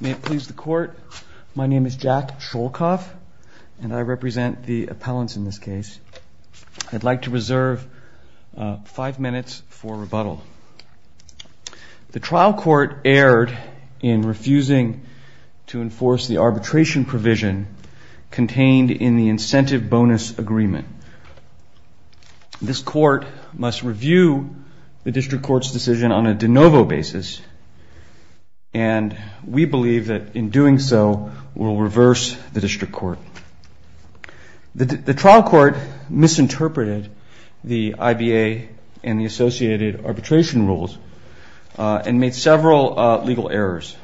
May it please the court, my name is Jack Sholkoff and I represent the appellants in this case. I'd like to reserve five minutes for rebuttal. The trial court erred in refusing to enforce the arbitration provision contained in the incentive bonus agreement. This court must review the district court's decision on a de novo basis and we believe that in doing so we'll reverse the district court. The trial court misinterpreted the IBA and the associated arbitration rules and made several legal errors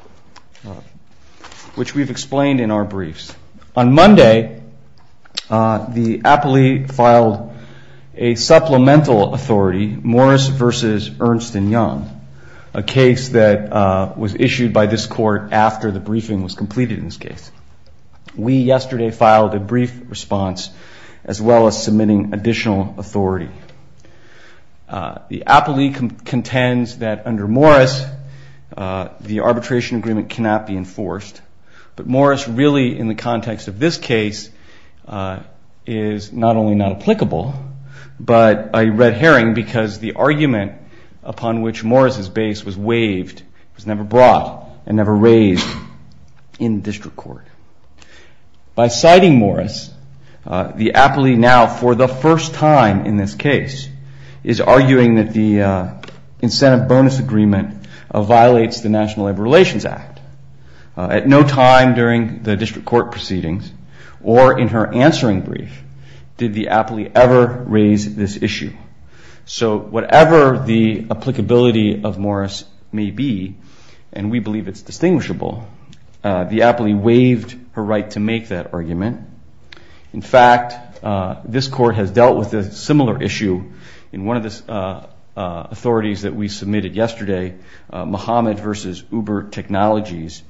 which we've explained in our briefs. On Monday, the appellee filed a supplemental authority, Morris v. Ernst & Young, a case that was issued by this court after the briefing was completed in this case. We yesterday filed a brief response as well as submitting additional authority. The appellee contends that under Morris the arbitration agreement cannot be enforced but Morris really in the context of this case is not only not applicable but a red herring because the argument upon which Morris' base was waived was never brought and never raised in district court. By citing Morris, the appellee now for the first time in this case is arguing that the incentive bonus agreement violates the National Labor Relations Act. At no time during the district court proceedings or in her answering brief did the appellee ever raise this issue. So whatever the applicability of Morris may be and we believe it's distinguishable, the appellee waived her right to make that argument. In fact, this court has dealt with a similar issue in one of the authorities that we submitted yesterday, Muhammad v. Uber Technologies.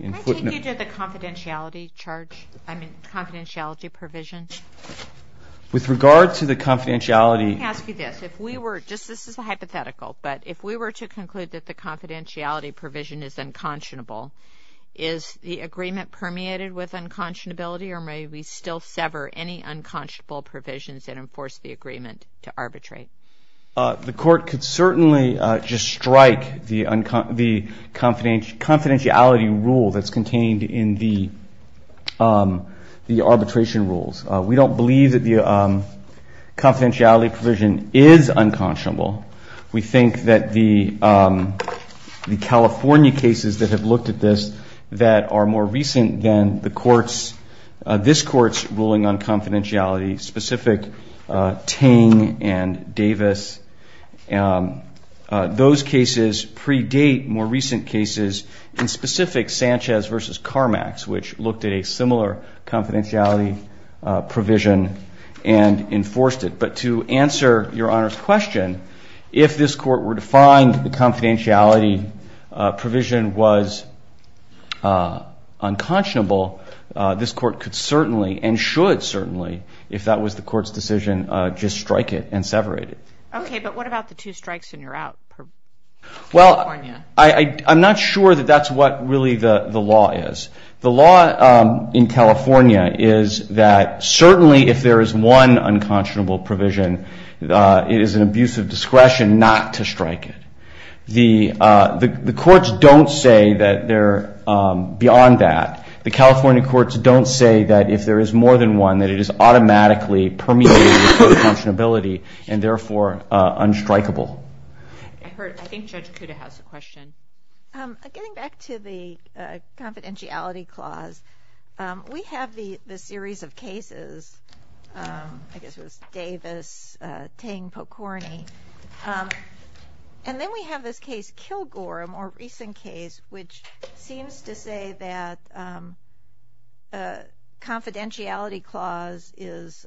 Can I take you to the confidentiality charge, I mean confidentiality provisions? With regard to the confidentiality... Let me ask you this, if we were, just this is a hypothetical, but if we were to conclude that the confidentiality provision is unconscionable, is the agreement permeated with unconscionability or may we still sever any unconscionable provisions and enforce the agreement to arbitrate? The court could certainly just strike the confidentiality rule that's contained in the arbitration rules. We don't believe that the confidentiality provision is unconscionable. We think that the California cases that have looked at this that are more recent than the courts, this court's ruling on confidentiality, specific Ting and Davis, those cases predate more recent cases, and specific Sanchez v. Carmax, which looked at a similar confidentiality provision and enforced it. But to answer Your Honor's question, if this court were to find the confidentiality provision was unconscionable, this court could certainly and should certainly, if that was the court's decision, just strike it and sever it. Okay, but what about the two strikes and you're out? Well, I'm not sure that that's what really the law is. The law in California is that certainly if there is one unconscionable provision, it is an abuse of discretion not to strike it. The courts don't say that they're beyond that. The California courts don't say that if there is more than one, that it is automatically permeated with unconscionability and therefore unstrikeable. I think Judge Kuda has a question. Getting back to the confidentiality clause, we have the series of cases, I guess it was Davis, Ting, Pokorny, and then we have this case Kilgore, a more recent case, which seems to say that confidentiality clause is,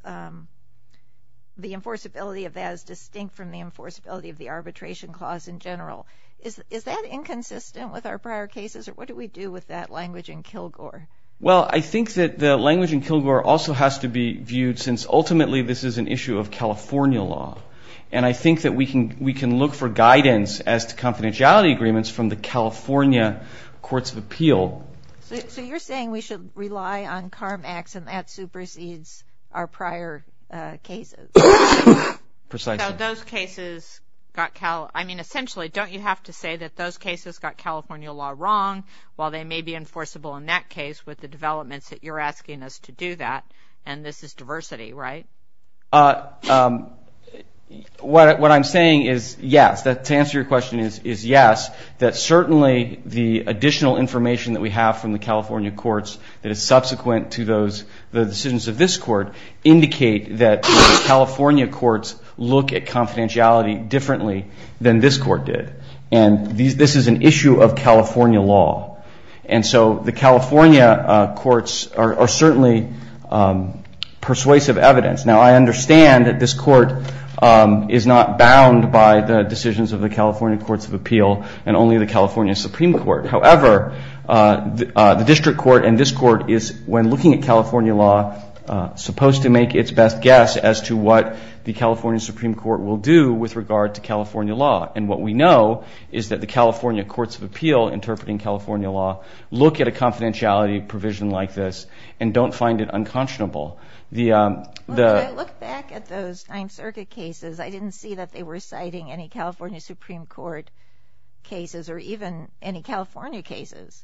the enforceability of that is distinct from the enforceability of the arbitration clause in general. Is that inconsistent with our prior cases or what do we do with that language in Kilgore? Well, I think that the language in Kilgore also has to be viewed since ultimately this is an issue of California law. And I think that we can look for guidance as to confidentiality agreements from the California courts of appeal. So you're saying we should rely on CARMAX and that supersedes our prior cases? Precisely. So those cases, I mean essentially, don't you have to say that those cases got California law wrong while they may be enforceable in that case with the developments that you're asking us to do that and this is diversity, right? What I'm saying is yes, to answer your question is yes, that certainly the additional information that we have from the California courts that is subsequent to the decisions of this court indicate that the California courts look at confidentiality differently than this court did. And this is an issue of California law. And so the California courts are certainly persuasive evidence. Now I understand that this court is not bound by the decisions of the California courts of appeal and only the California Supreme Court. However, the district court and this court is when looking at California law supposed to make its best guess as to what the California Supreme Court will do with regard to California law. And what we know is that the California courts of appeal interpreting California law look at a confidentiality provision like this and don't find it unconscionable. When I look back at those Ninth Circuit cases, I didn't see that they were citing any California Supreme Court cases or even any California cases.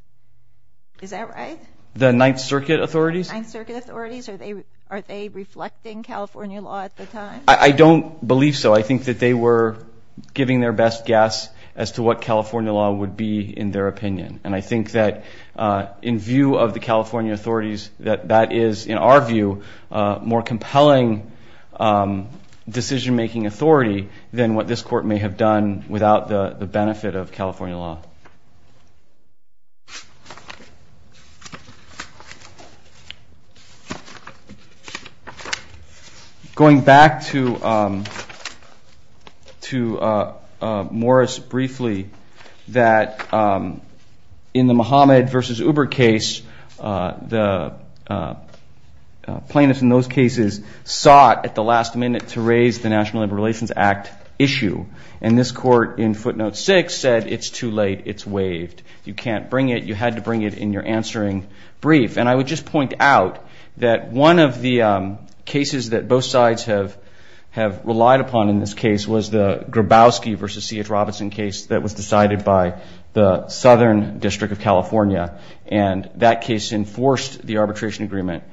Is that right? The Ninth Circuit authorities? The Ninth Circuit authorities? Are they reflecting California law at the time? I don't believe so. I think that they were giving their best guess as to what California law would be in their opinion. And I think that in view of the California authorities that that is, in our view, a more compelling decision-making authority than what this court may have done without the benefit of California law. Going back to Morris briefly, that in the Muhammad v. Uber case, the plaintiffs in those cases sought at the last minute to raise the National Labor Relations Act issue. And this court in footnote 6 said it's too late. It's waived. You can't bring it. You had to bring it in your answering brief. And I would just point out that one of the cases that both sides have relied upon in this case was the Grabowski v. C.H. Robinson case that was decided by the Southern District of California. And that case enforced the arbitration agreement.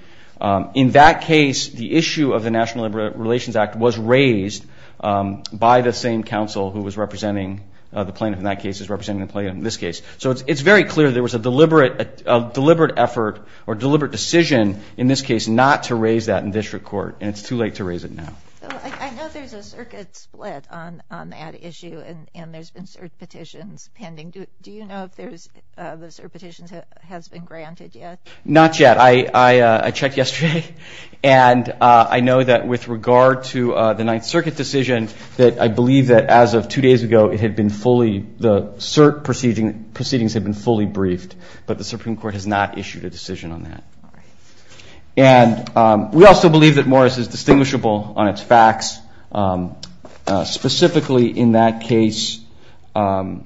In that case, the issue of the National Labor Relations Act was raised by the same counsel who was representing the plaintiff in that case as representing the plaintiff in this case. So it's very clear there was a deliberate effort or deliberate decision in this case not to raise that in district court. And it's too late to raise it now. I know there's a circuit split on that issue, and there's been cert petitions pending. Do you know if the cert petition has been granted yet? Not yet. I checked yesterday. And I know that with regard to the Ninth Circuit decision, that I believe that as of two days ago it had been fully the cert proceedings had been fully briefed, but the Supreme Court has not issued a decision on that. And we also believe that Morris is distinguishable on its facts, specifically in that case the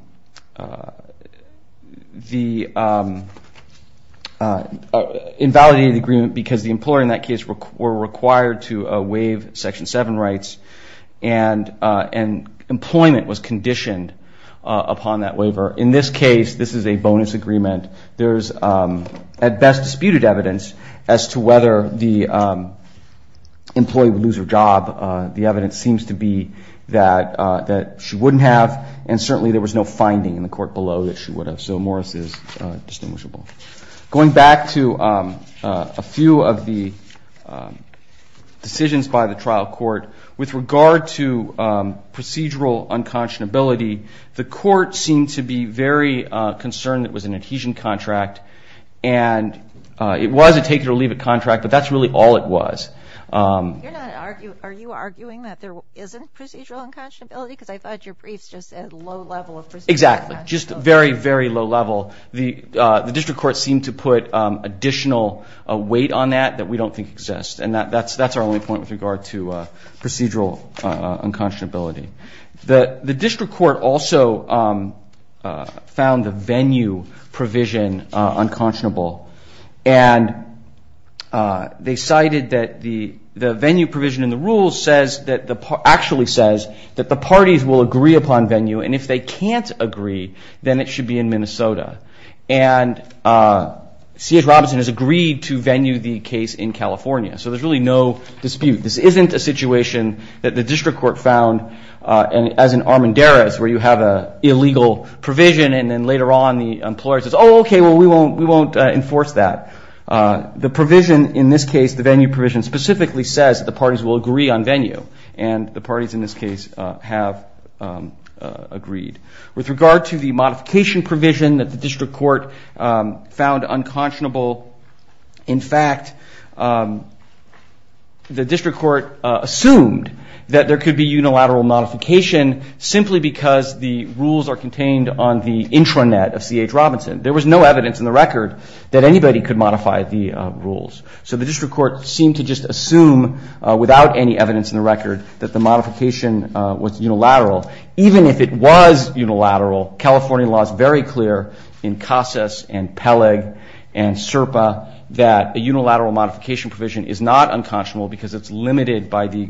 invalidated agreement because the employer in that case were required to waive Section 7 rights and employment was conditioned upon that waiver. In this case, this is a bonus agreement. There's at best disputed evidence as to whether the employee would lose her job. The evidence seems to be that she wouldn't have, and certainly there was no finding in the court below that she would have. So Morris is distinguishable. Going back to a few of the decisions by the trial court, with regard to procedural unconscionability, the court seemed to be very concerned that it was an adhesion contract. And it was a take-it-or-leave-it contract, but that's really all it was. Are you arguing that there isn't procedural unconscionability? Because I thought your briefs just said low level of procedural unconscionability. Exactly, just very, very low level. The district court seemed to put additional weight on that that we don't think exists, and that's our only point with regard to procedural unconscionability. The district court also found the venue provision unconscionable, and they cited that the venue provision in the rules actually says that the parties will agree upon venue, and if they can't agree, then it should be in Minnesota. And C.S. Robinson has agreed to venue the case in California, so there's really no dispute. This isn't a situation that the district court found, as in Armendariz, where you have an illegal provision and then later on the employer says, oh, okay, well, we won't enforce that. The provision in this case, the venue provision, specifically says that the parties will agree on venue, and the parties in this case have agreed. With regard to the modification provision that the district court found unconscionable, in fact, the district court assumed that there could be unilateral modification simply because the rules are contained on the intranet of C.H. Robinson. There was no evidence in the record that anybody could modify the rules. So the district court seemed to just assume, without any evidence in the record, that the modification was unilateral. Even if it was unilateral, California law is very clear in CASAS and Peleg and SERPA that a unilateral modification provision is not unconscionable because it's limited by the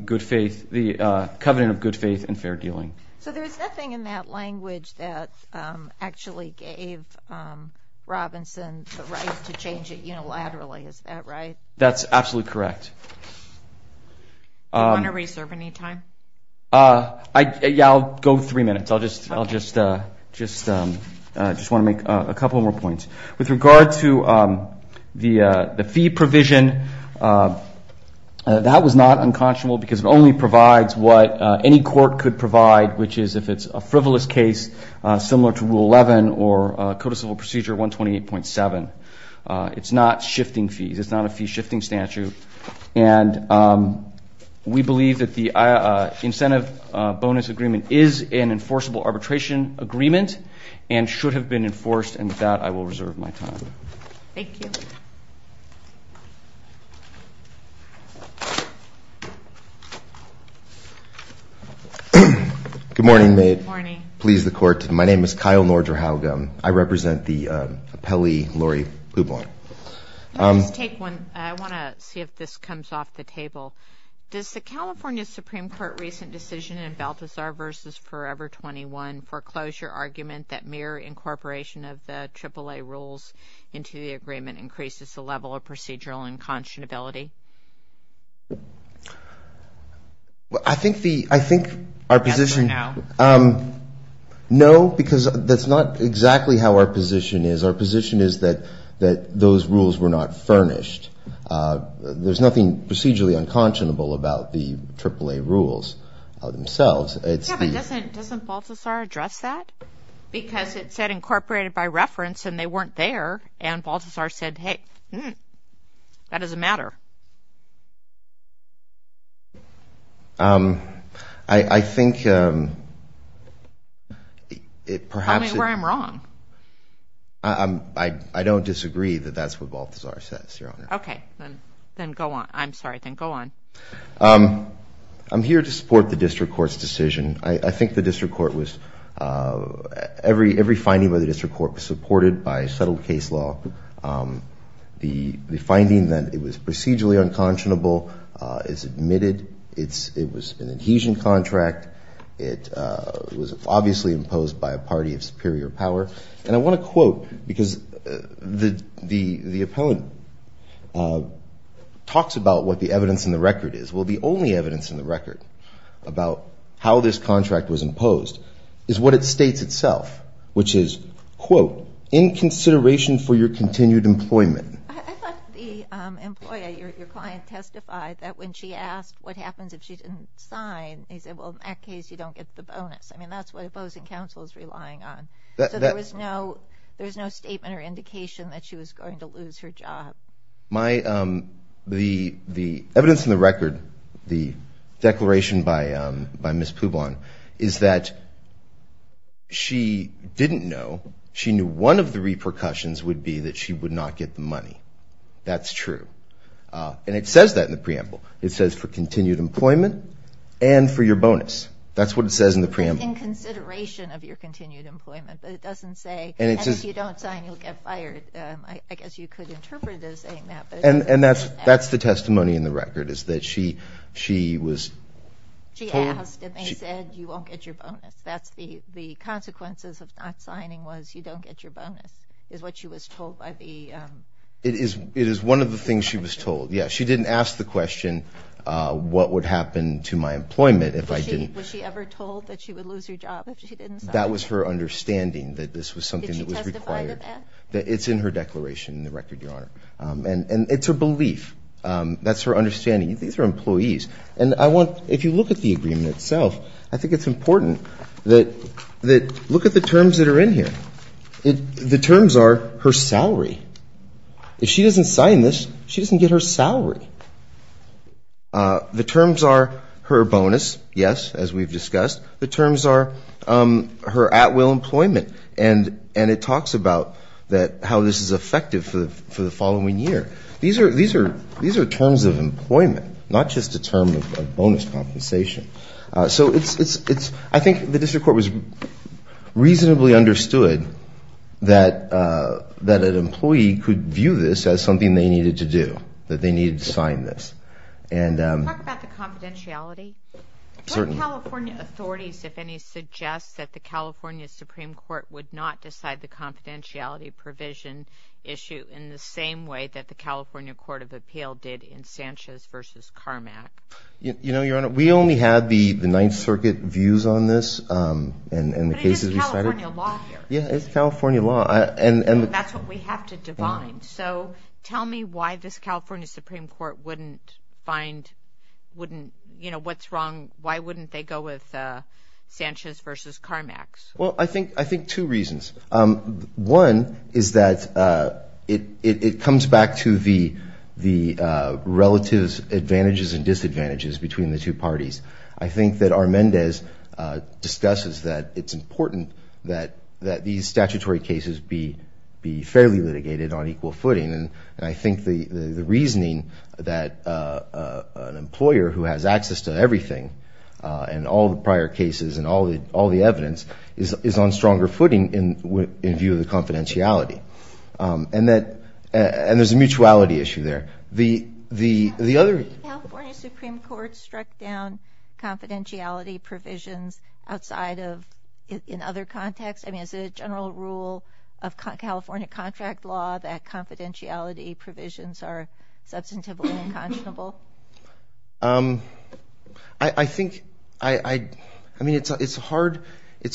covenant of good faith and fair dealing. So there's nothing in that language that actually gave Robinson the right to change it unilaterally. Is that right? That's absolutely correct. Do you want to reserve any time? Yeah, I'll go three minutes. I'll just want to make a couple more points. With regard to the fee provision, that was not unconscionable because it only provides what any court could provide, which is if it's a frivolous case similar to Rule 11 or Code of Civil Procedure 128.7. It's not shifting fees. It's not a fee-shifting statute. And we believe that the incentive bonus agreement is an enforceable arbitration agreement and should have been enforced, and with that, I will reserve my time. Thank you. Good morning. Good morning. Please, the Court. My name is Kyle Nordra-Howgum. I represent the appellee, Lori Ublon. Let me just take one. I want to see if this comes off the table. Does the California Supreme Court recent decision in Balthazar v. Forever 21 foreclosure argument that mere incorporation of the AAA rules into the agreement increases the level of procedural unconscionability? Well, I think the – I think our position – As for now? No, because that's not exactly how our position is. Our position is that those rules were not furnished. There's nothing procedurally unconscionable about the AAA rules themselves. Yeah, but doesn't Balthazar address that? Because it said incorporated by reference, and they weren't there, and Balthazar said, hey, that doesn't matter. I think it perhaps – Tell me where I'm wrong. I don't disagree that that's what Balthazar says, Your Honor. Okay. Then go on. I'm sorry. Then go on. I'm here to support the district court's decision. I think the district court was – every finding by the district court was supported by settled case law. The finding that it was procedurally unconscionable is admitted. It was an adhesion contract. It was obviously imposed by a party of superior power. And I want to quote, because the opponent talks about what the evidence in the record is. Well, the only evidence in the record about how this contract was imposed is what it states itself, which is, quote, in consideration for your continued employment. I thought the employee, your client, testified that when she asked what happens if she didn't sign, he said, well, in that case, you don't get the bonus. I mean, that's what opposing counsel is relying on. So there was no statement or indication that she was going to lose her job. The evidence in the record, the declaration by Ms. Publon, is that she didn't know. She knew one of the repercussions would be that she would not get the money. That's true. And it says that in the preamble. It says for continued employment and for your bonus. That's what it says in the preamble. In consideration of your continued employment. But it doesn't say, and if you don't sign, you'll get fired. I guess you could interpret it as saying that. And that's the testimony in the record, is that she was told. She asked and they said, you won't get your bonus. That's the consequences of not signing was you don't get your bonus, is what she was told by the... It is one of the things she was told. Yeah, she didn't ask the question, what would happen to my employment if I didn't... Was she ever told that she would lose her job if she didn't sign? That was her understanding, that this was something that was required. That it's in her declaration in the record, Your Honor. And it's her belief. That's her understanding. These are employees. And I want... If you look at the agreement itself, I think it's important that... Look at the terms that are in here. The terms are her salary. If she doesn't sign this, she doesn't get her salary. The terms are her bonus, yes, as we've discussed. The terms are her at-will employment. And it talks about how this is effective for the following year. These are terms of employment, not just a term of bonus compensation. So I think the district court was reasonably understood that an employee could view this as something they needed to do, that they needed to sign this. Talk about the confidentiality. Certainly. The California authorities, if any, suggest that the California Supreme Court would not decide the confidentiality provision issue in the same way that the California Court of Appeal did in Sanchez v. Carmack. You know, Your Honor, we only had the Ninth Circuit views on this and the cases we cited. But it is California law here. Yeah, it's California law. That's what we have to define. So tell me why this California Supreme Court wouldn't find, wouldn't, you know, what's wrong, why wouldn't they go with Sanchez v. Carmack? Well, I think two reasons. One is that it comes back to the relative advantages and disadvantages between the two parties. I think that R. Mendez discusses that it's important that these statutory cases be fairly litigated on equal footing. And I think the reasoning that an employer who has access to everything and all the prior cases and all the evidence is on stronger footing in view of the confidentiality. And there's a mutuality issue there. The California Supreme Court struck down confidentiality provisions outside of, in other contexts. I mean, is it a general rule of California contract law that confidentiality provisions are substantively unconscionable? I think, I mean, it's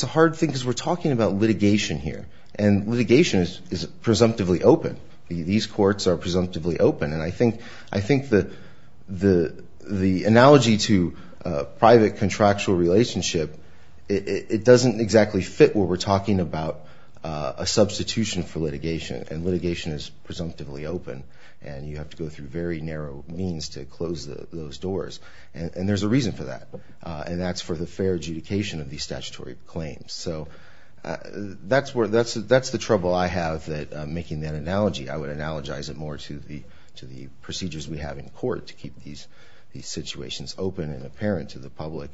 a hard thing because we're talking about litigation here. And litigation is presumptively open. These courts are presumptively open. And I think the analogy to private contractual relationship, it doesn't exactly fit what we're talking about, a substitution for litigation. And litigation is presumptively open. And you have to go through very narrow means to close those doors. And there's a reason for that. And that's for the fair adjudication of these statutory claims. So that's the trouble I have making that analogy. I would analogize it more to the procedures we have in court to keep these situations open and apparent to the public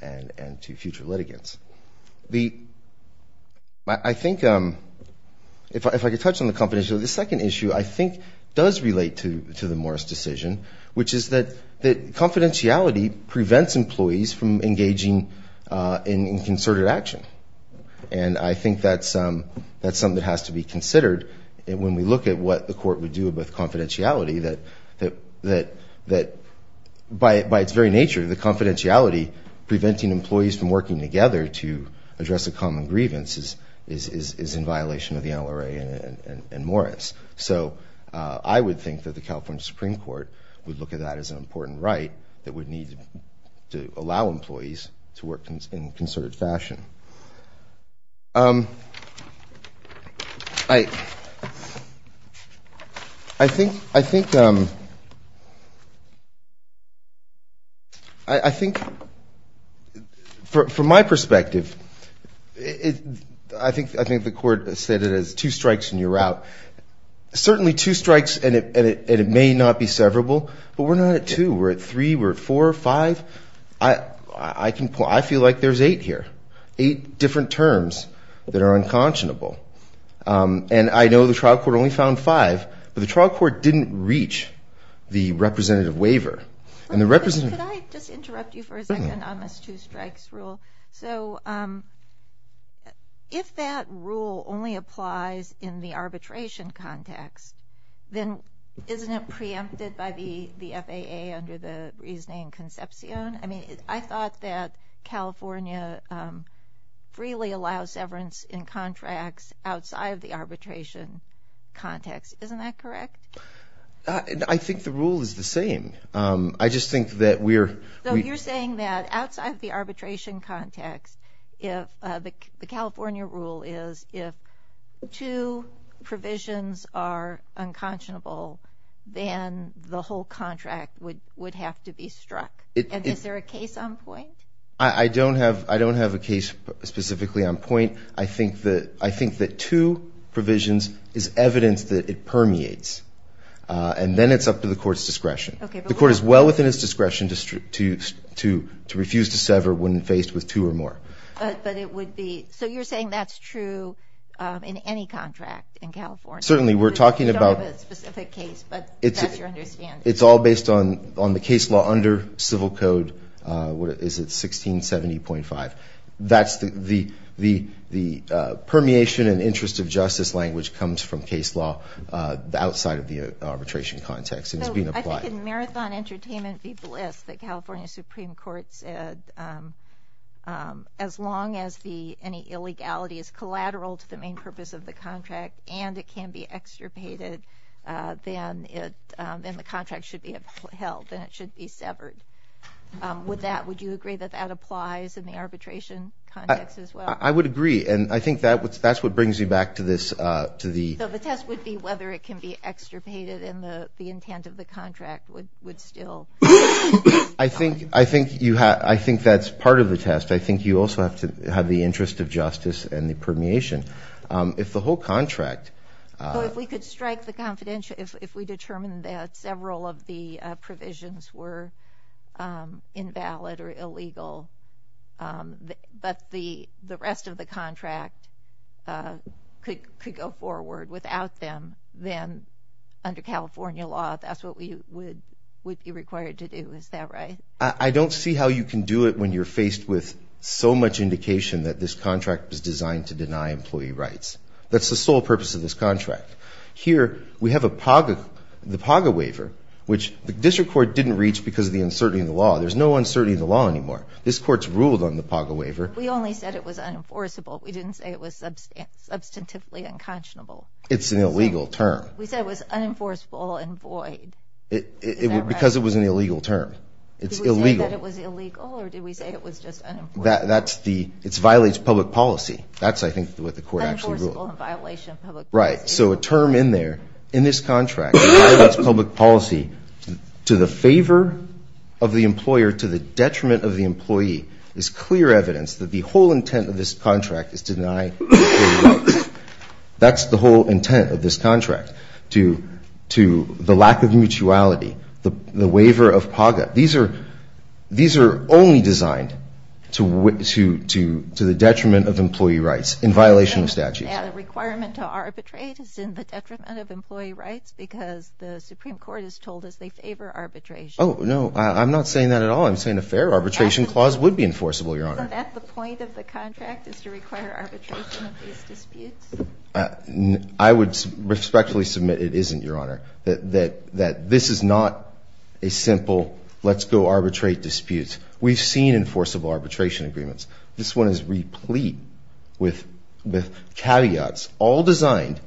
and to future litigants. I think, if I could touch on the confidentiality, the second issue I think does relate to the Morris decision, which is that confidentiality prevents employees from engaging in concerted action. And I think that's something that has to be considered when we look at what the court would do with confidentiality, that by its very nature, the confidentiality preventing employees from working together to address a common grievance is in violation of the NLRA and Morris. So I would think that the California Supreme Court would look at that as an important right that would need to allow employees to work in concerted fashion. I think, from my perspective, I think the court said it as two strikes and you're out. Certainly two strikes, and it may not be severable, but we're not at two. We're at three, we're at four, five. I feel like there's eight here, eight different terms that are unconscionable. And I know the trial court only found five, but the trial court didn't reach the representative waiver. Could I just interrupt you for a second on this two strikes rule? So if that rule only applies in the arbitration context, then isn't it preempted by the FAA under the reasoning Concepcion? I mean, I thought that California freely allows severance in contracts outside of the arbitration context. Isn't that correct? I think the rule is the same. So you're saying that outside of the arbitration context, the California rule is if two provisions are unconscionable, then the whole contract would have to be struck. And is there a case on point? I don't have a case specifically on point. I think that two provisions is evidence that it permeates. And then it's up to the court's discretion. The court is well within its discretion to refuse to sever when faced with two or more. So you're saying that's true in any contract in California? Certainly. We don't have a specific case, but that's your understanding. It's all based on the case law under civil code. Is it 1670.5? The permeation and interest of justice language comes from case law outside of the arbitration context. I think in Marathon Entertainment v. Bliss, the California Supreme Court said as long as any illegality is collateral to the main purpose of the contract and it can be extirpated, then the contract should be upheld and it should be severed. Would you agree that that applies in the arbitration context as well? I would agree. And I think that's what brings you back to this. So the test would be whether it can be extirpated and the intent of the contract would still. I think that's part of the test. I think you also have to have the interest of justice and the permeation. If the whole contract. If we could strike the confidential, if we determine that several of the provisions were invalid or illegal, but the rest of the contract could go forward without them, then under California law, that's what we would be required to do. Is that right? I don't see how you can do it when you're faced with so much indication that this contract was designed to deny employee rights. That's the sole purpose of this contract. Here we have the PAGA waiver, which the district court didn't reach because of the uncertainty in the law. There's no uncertainty in the law anymore. This court's ruled on the PAGA waiver. We only said it was unenforceable. We didn't say it was substantively unconscionable. It's an illegal term. We said it was unenforceable and void. Because it was an illegal term. Did we say that it was illegal or did we say it was just unenforceable? It violates public policy. That's, I think, what the court actually ruled. Unenforceable in violation of public policy. Right. So a term in there, in this contract, that violates public policy to the favor of the employer, to the detriment of the employee, is clear evidence that the whole intent of this contract is to deny employee rights. That's the whole intent of this contract, to the lack of mutuality, the waiver of PAGA. These are only designed to the detriment of employee rights in violation of statutes. The requirement to arbitrate is in the detriment of employee rights because the Supreme Court has told us they favor arbitration. Oh, no. I'm not saying that at all. I'm saying a fair arbitration clause would be enforceable, Your Honor. Isn't that the point of the contract is to require arbitration of these disputes? I would respectfully submit it isn't, Your Honor. That this is not a simple let's go arbitrate disputes. We've seen enforceable arbitration agreements. This one is replete with caveats, all designed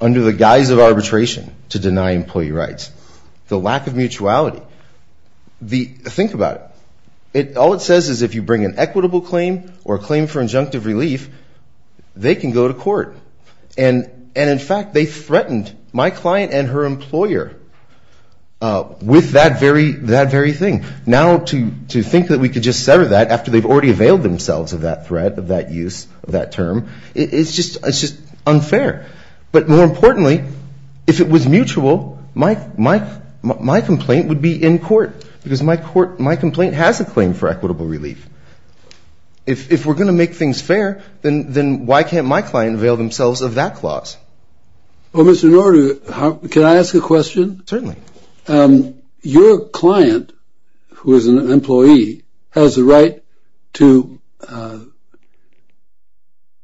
under the guise of arbitration to deny employee rights. The lack of mutuality. Think about it. All it says is if you bring an equitable claim or a claim for injunctive relief, they can go to court. And in fact, they threatened my client and her employer with that very thing. Now to think that we could just sever that after they've already availed themselves of that threat, of that use, of that term, it's just unfair. But more importantly, if it was mutual, my complaint would be in court because my complaint has a claim for equitable relief. If we're going to make things fair, then why can't my client avail themselves of that clause? Well, Mr. Norter, can I ask a question? Certainly. Your client, who is an employee, has the right to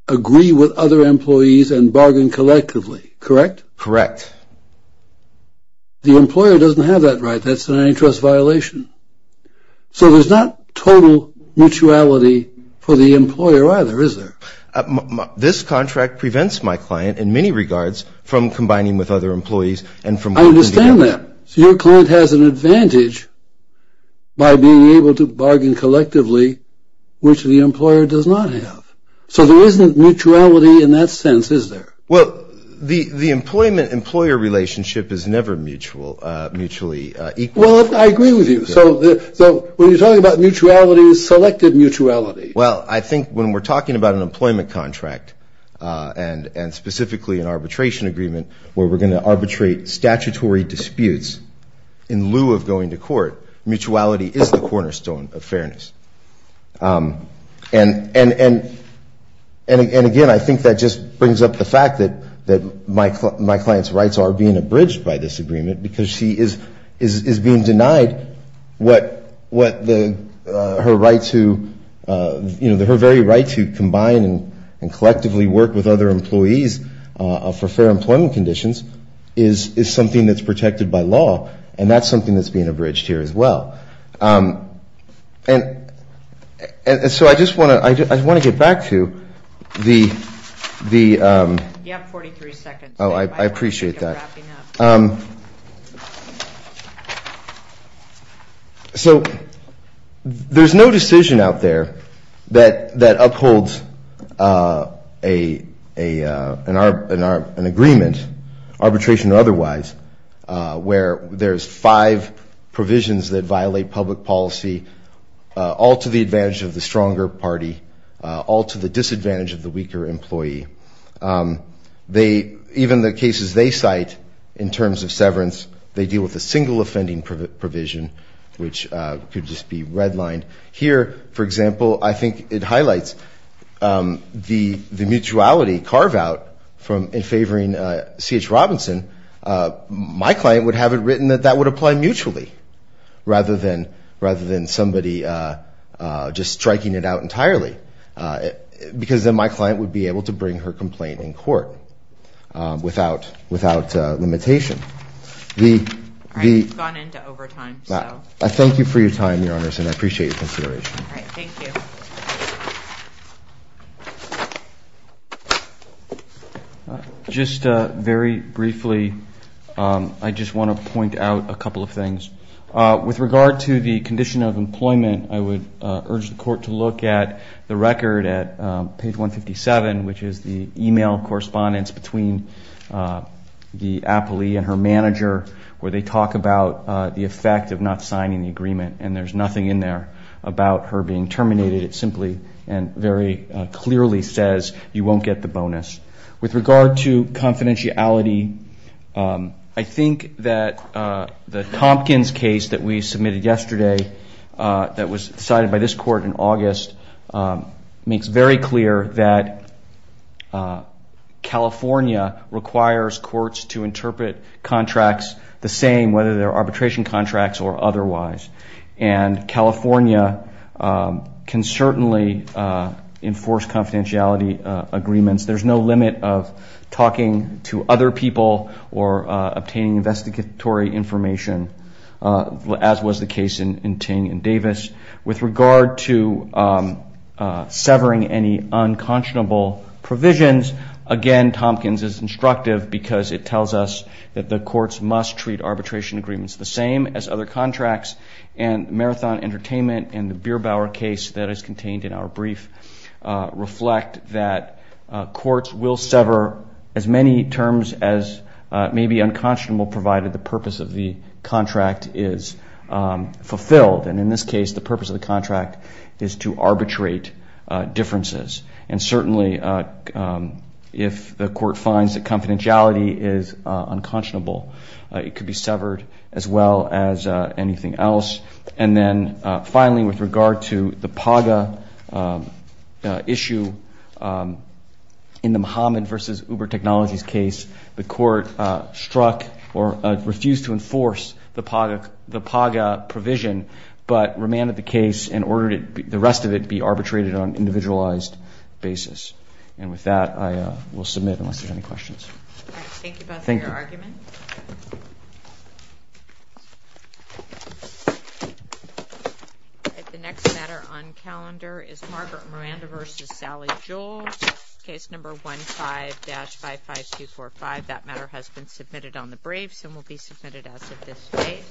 agree with other employees and bargain collectively, correct? Correct. The employer doesn't have that right. That's an antitrust violation. So there's not total mutuality for the employer either, is there? This contract prevents my client in many regards from combining with other employees. I understand that. So your client has an advantage by being able to bargain collectively, which the employer does not have. So there isn't mutuality in that sense, is there? Well, the employer relationship is never mutually equal. Well, I agree with you. So when you're talking about mutuality, it's selective mutuality. Well, I think when we're talking about an employment contract and specifically an arbitration agreement where we're going to arbitrate statutory disputes in lieu of going to court, mutuality is the cornerstone of fairness. And again, I think that just brings up the fact that my client's rights are being abridged by this agreement because she is being denied her very right to combine and collectively work with other employees for fair employment conditions is something that's protected by law, and that's something that's being abridged here as well. So I just want to get back to the... You have 43 seconds. Oh, I appreciate that. Thank you for wrapping up. So there's no decision out there that upholds an agreement, arbitration or otherwise, where there's five provisions that violate public policy, all to the advantage of the stronger party, all to the disadvantage of the weaker employee. Even the cases they cite in terms of severance, they deal with a single offending provision, which could just be redlined. Here, for example, I think it highlights the mutuality carve-out in favoring C.H. Robinson. My client would have it written that that would apply mutually rather than somebody just striking it out entirely, because then my client would be able to bring her complaint in court without limitation. All right, we've gone into overtime, so... I thank you for your time, Your Honors, and I appreciate your consideration. All right, thank you. Just very briefly, I just want to point out a couple of things. With regard to the condition of employment, I would urge the Court to look at the record at page 157, which is the e-mail correspondence between the appellee and her manager, where they talk about the effect of not signing the agreement, and there's nothing in there about her being terminated. It simply and very clearly says you won't get the bonus. With regard to confidentiality, I think that the Tompkins case that we submitted yesterday that was decided by this Court in August makes very clear that California requires courts to interpret contracts the same, whether they're arbitration contracts or otherwise. And California can certainly enforce confidentiality agreements. There's no limit of talking to other people or obtaining investigatory information, as was the case in Ting and Davis. With regard to severing any unconscionable provisions, again, Tompkins is instructive, because it tells us that the courts must treat arbitration agreements the same as other contracts. And Marathon Entertainment and the Bierbauer case that is contained in our brief reflect that courts will sever as many terms as may be unconscionable, provided the purpose of the contract is fulfilled. And in this case, the purpose of the contract is to arbitrate differences. And certainly, if the Court finds that confidentiality is unconscionable, it could be severed as well as anything else. And then finally, with regard to the PAGA issue in the Mahaman v. Uber Technologies case, the Court struck or refused to enforce the PAGA provision, but remanded the case and ordered the rest of it be arbitrated on an individualized basis. And with that, I will submit, unless there are any questions. The next matter on calendar is Margaret Miranda v. Sally Jewell. Case number 15-55245. That matter has been submitted on the briefs and will be submitted as of this date.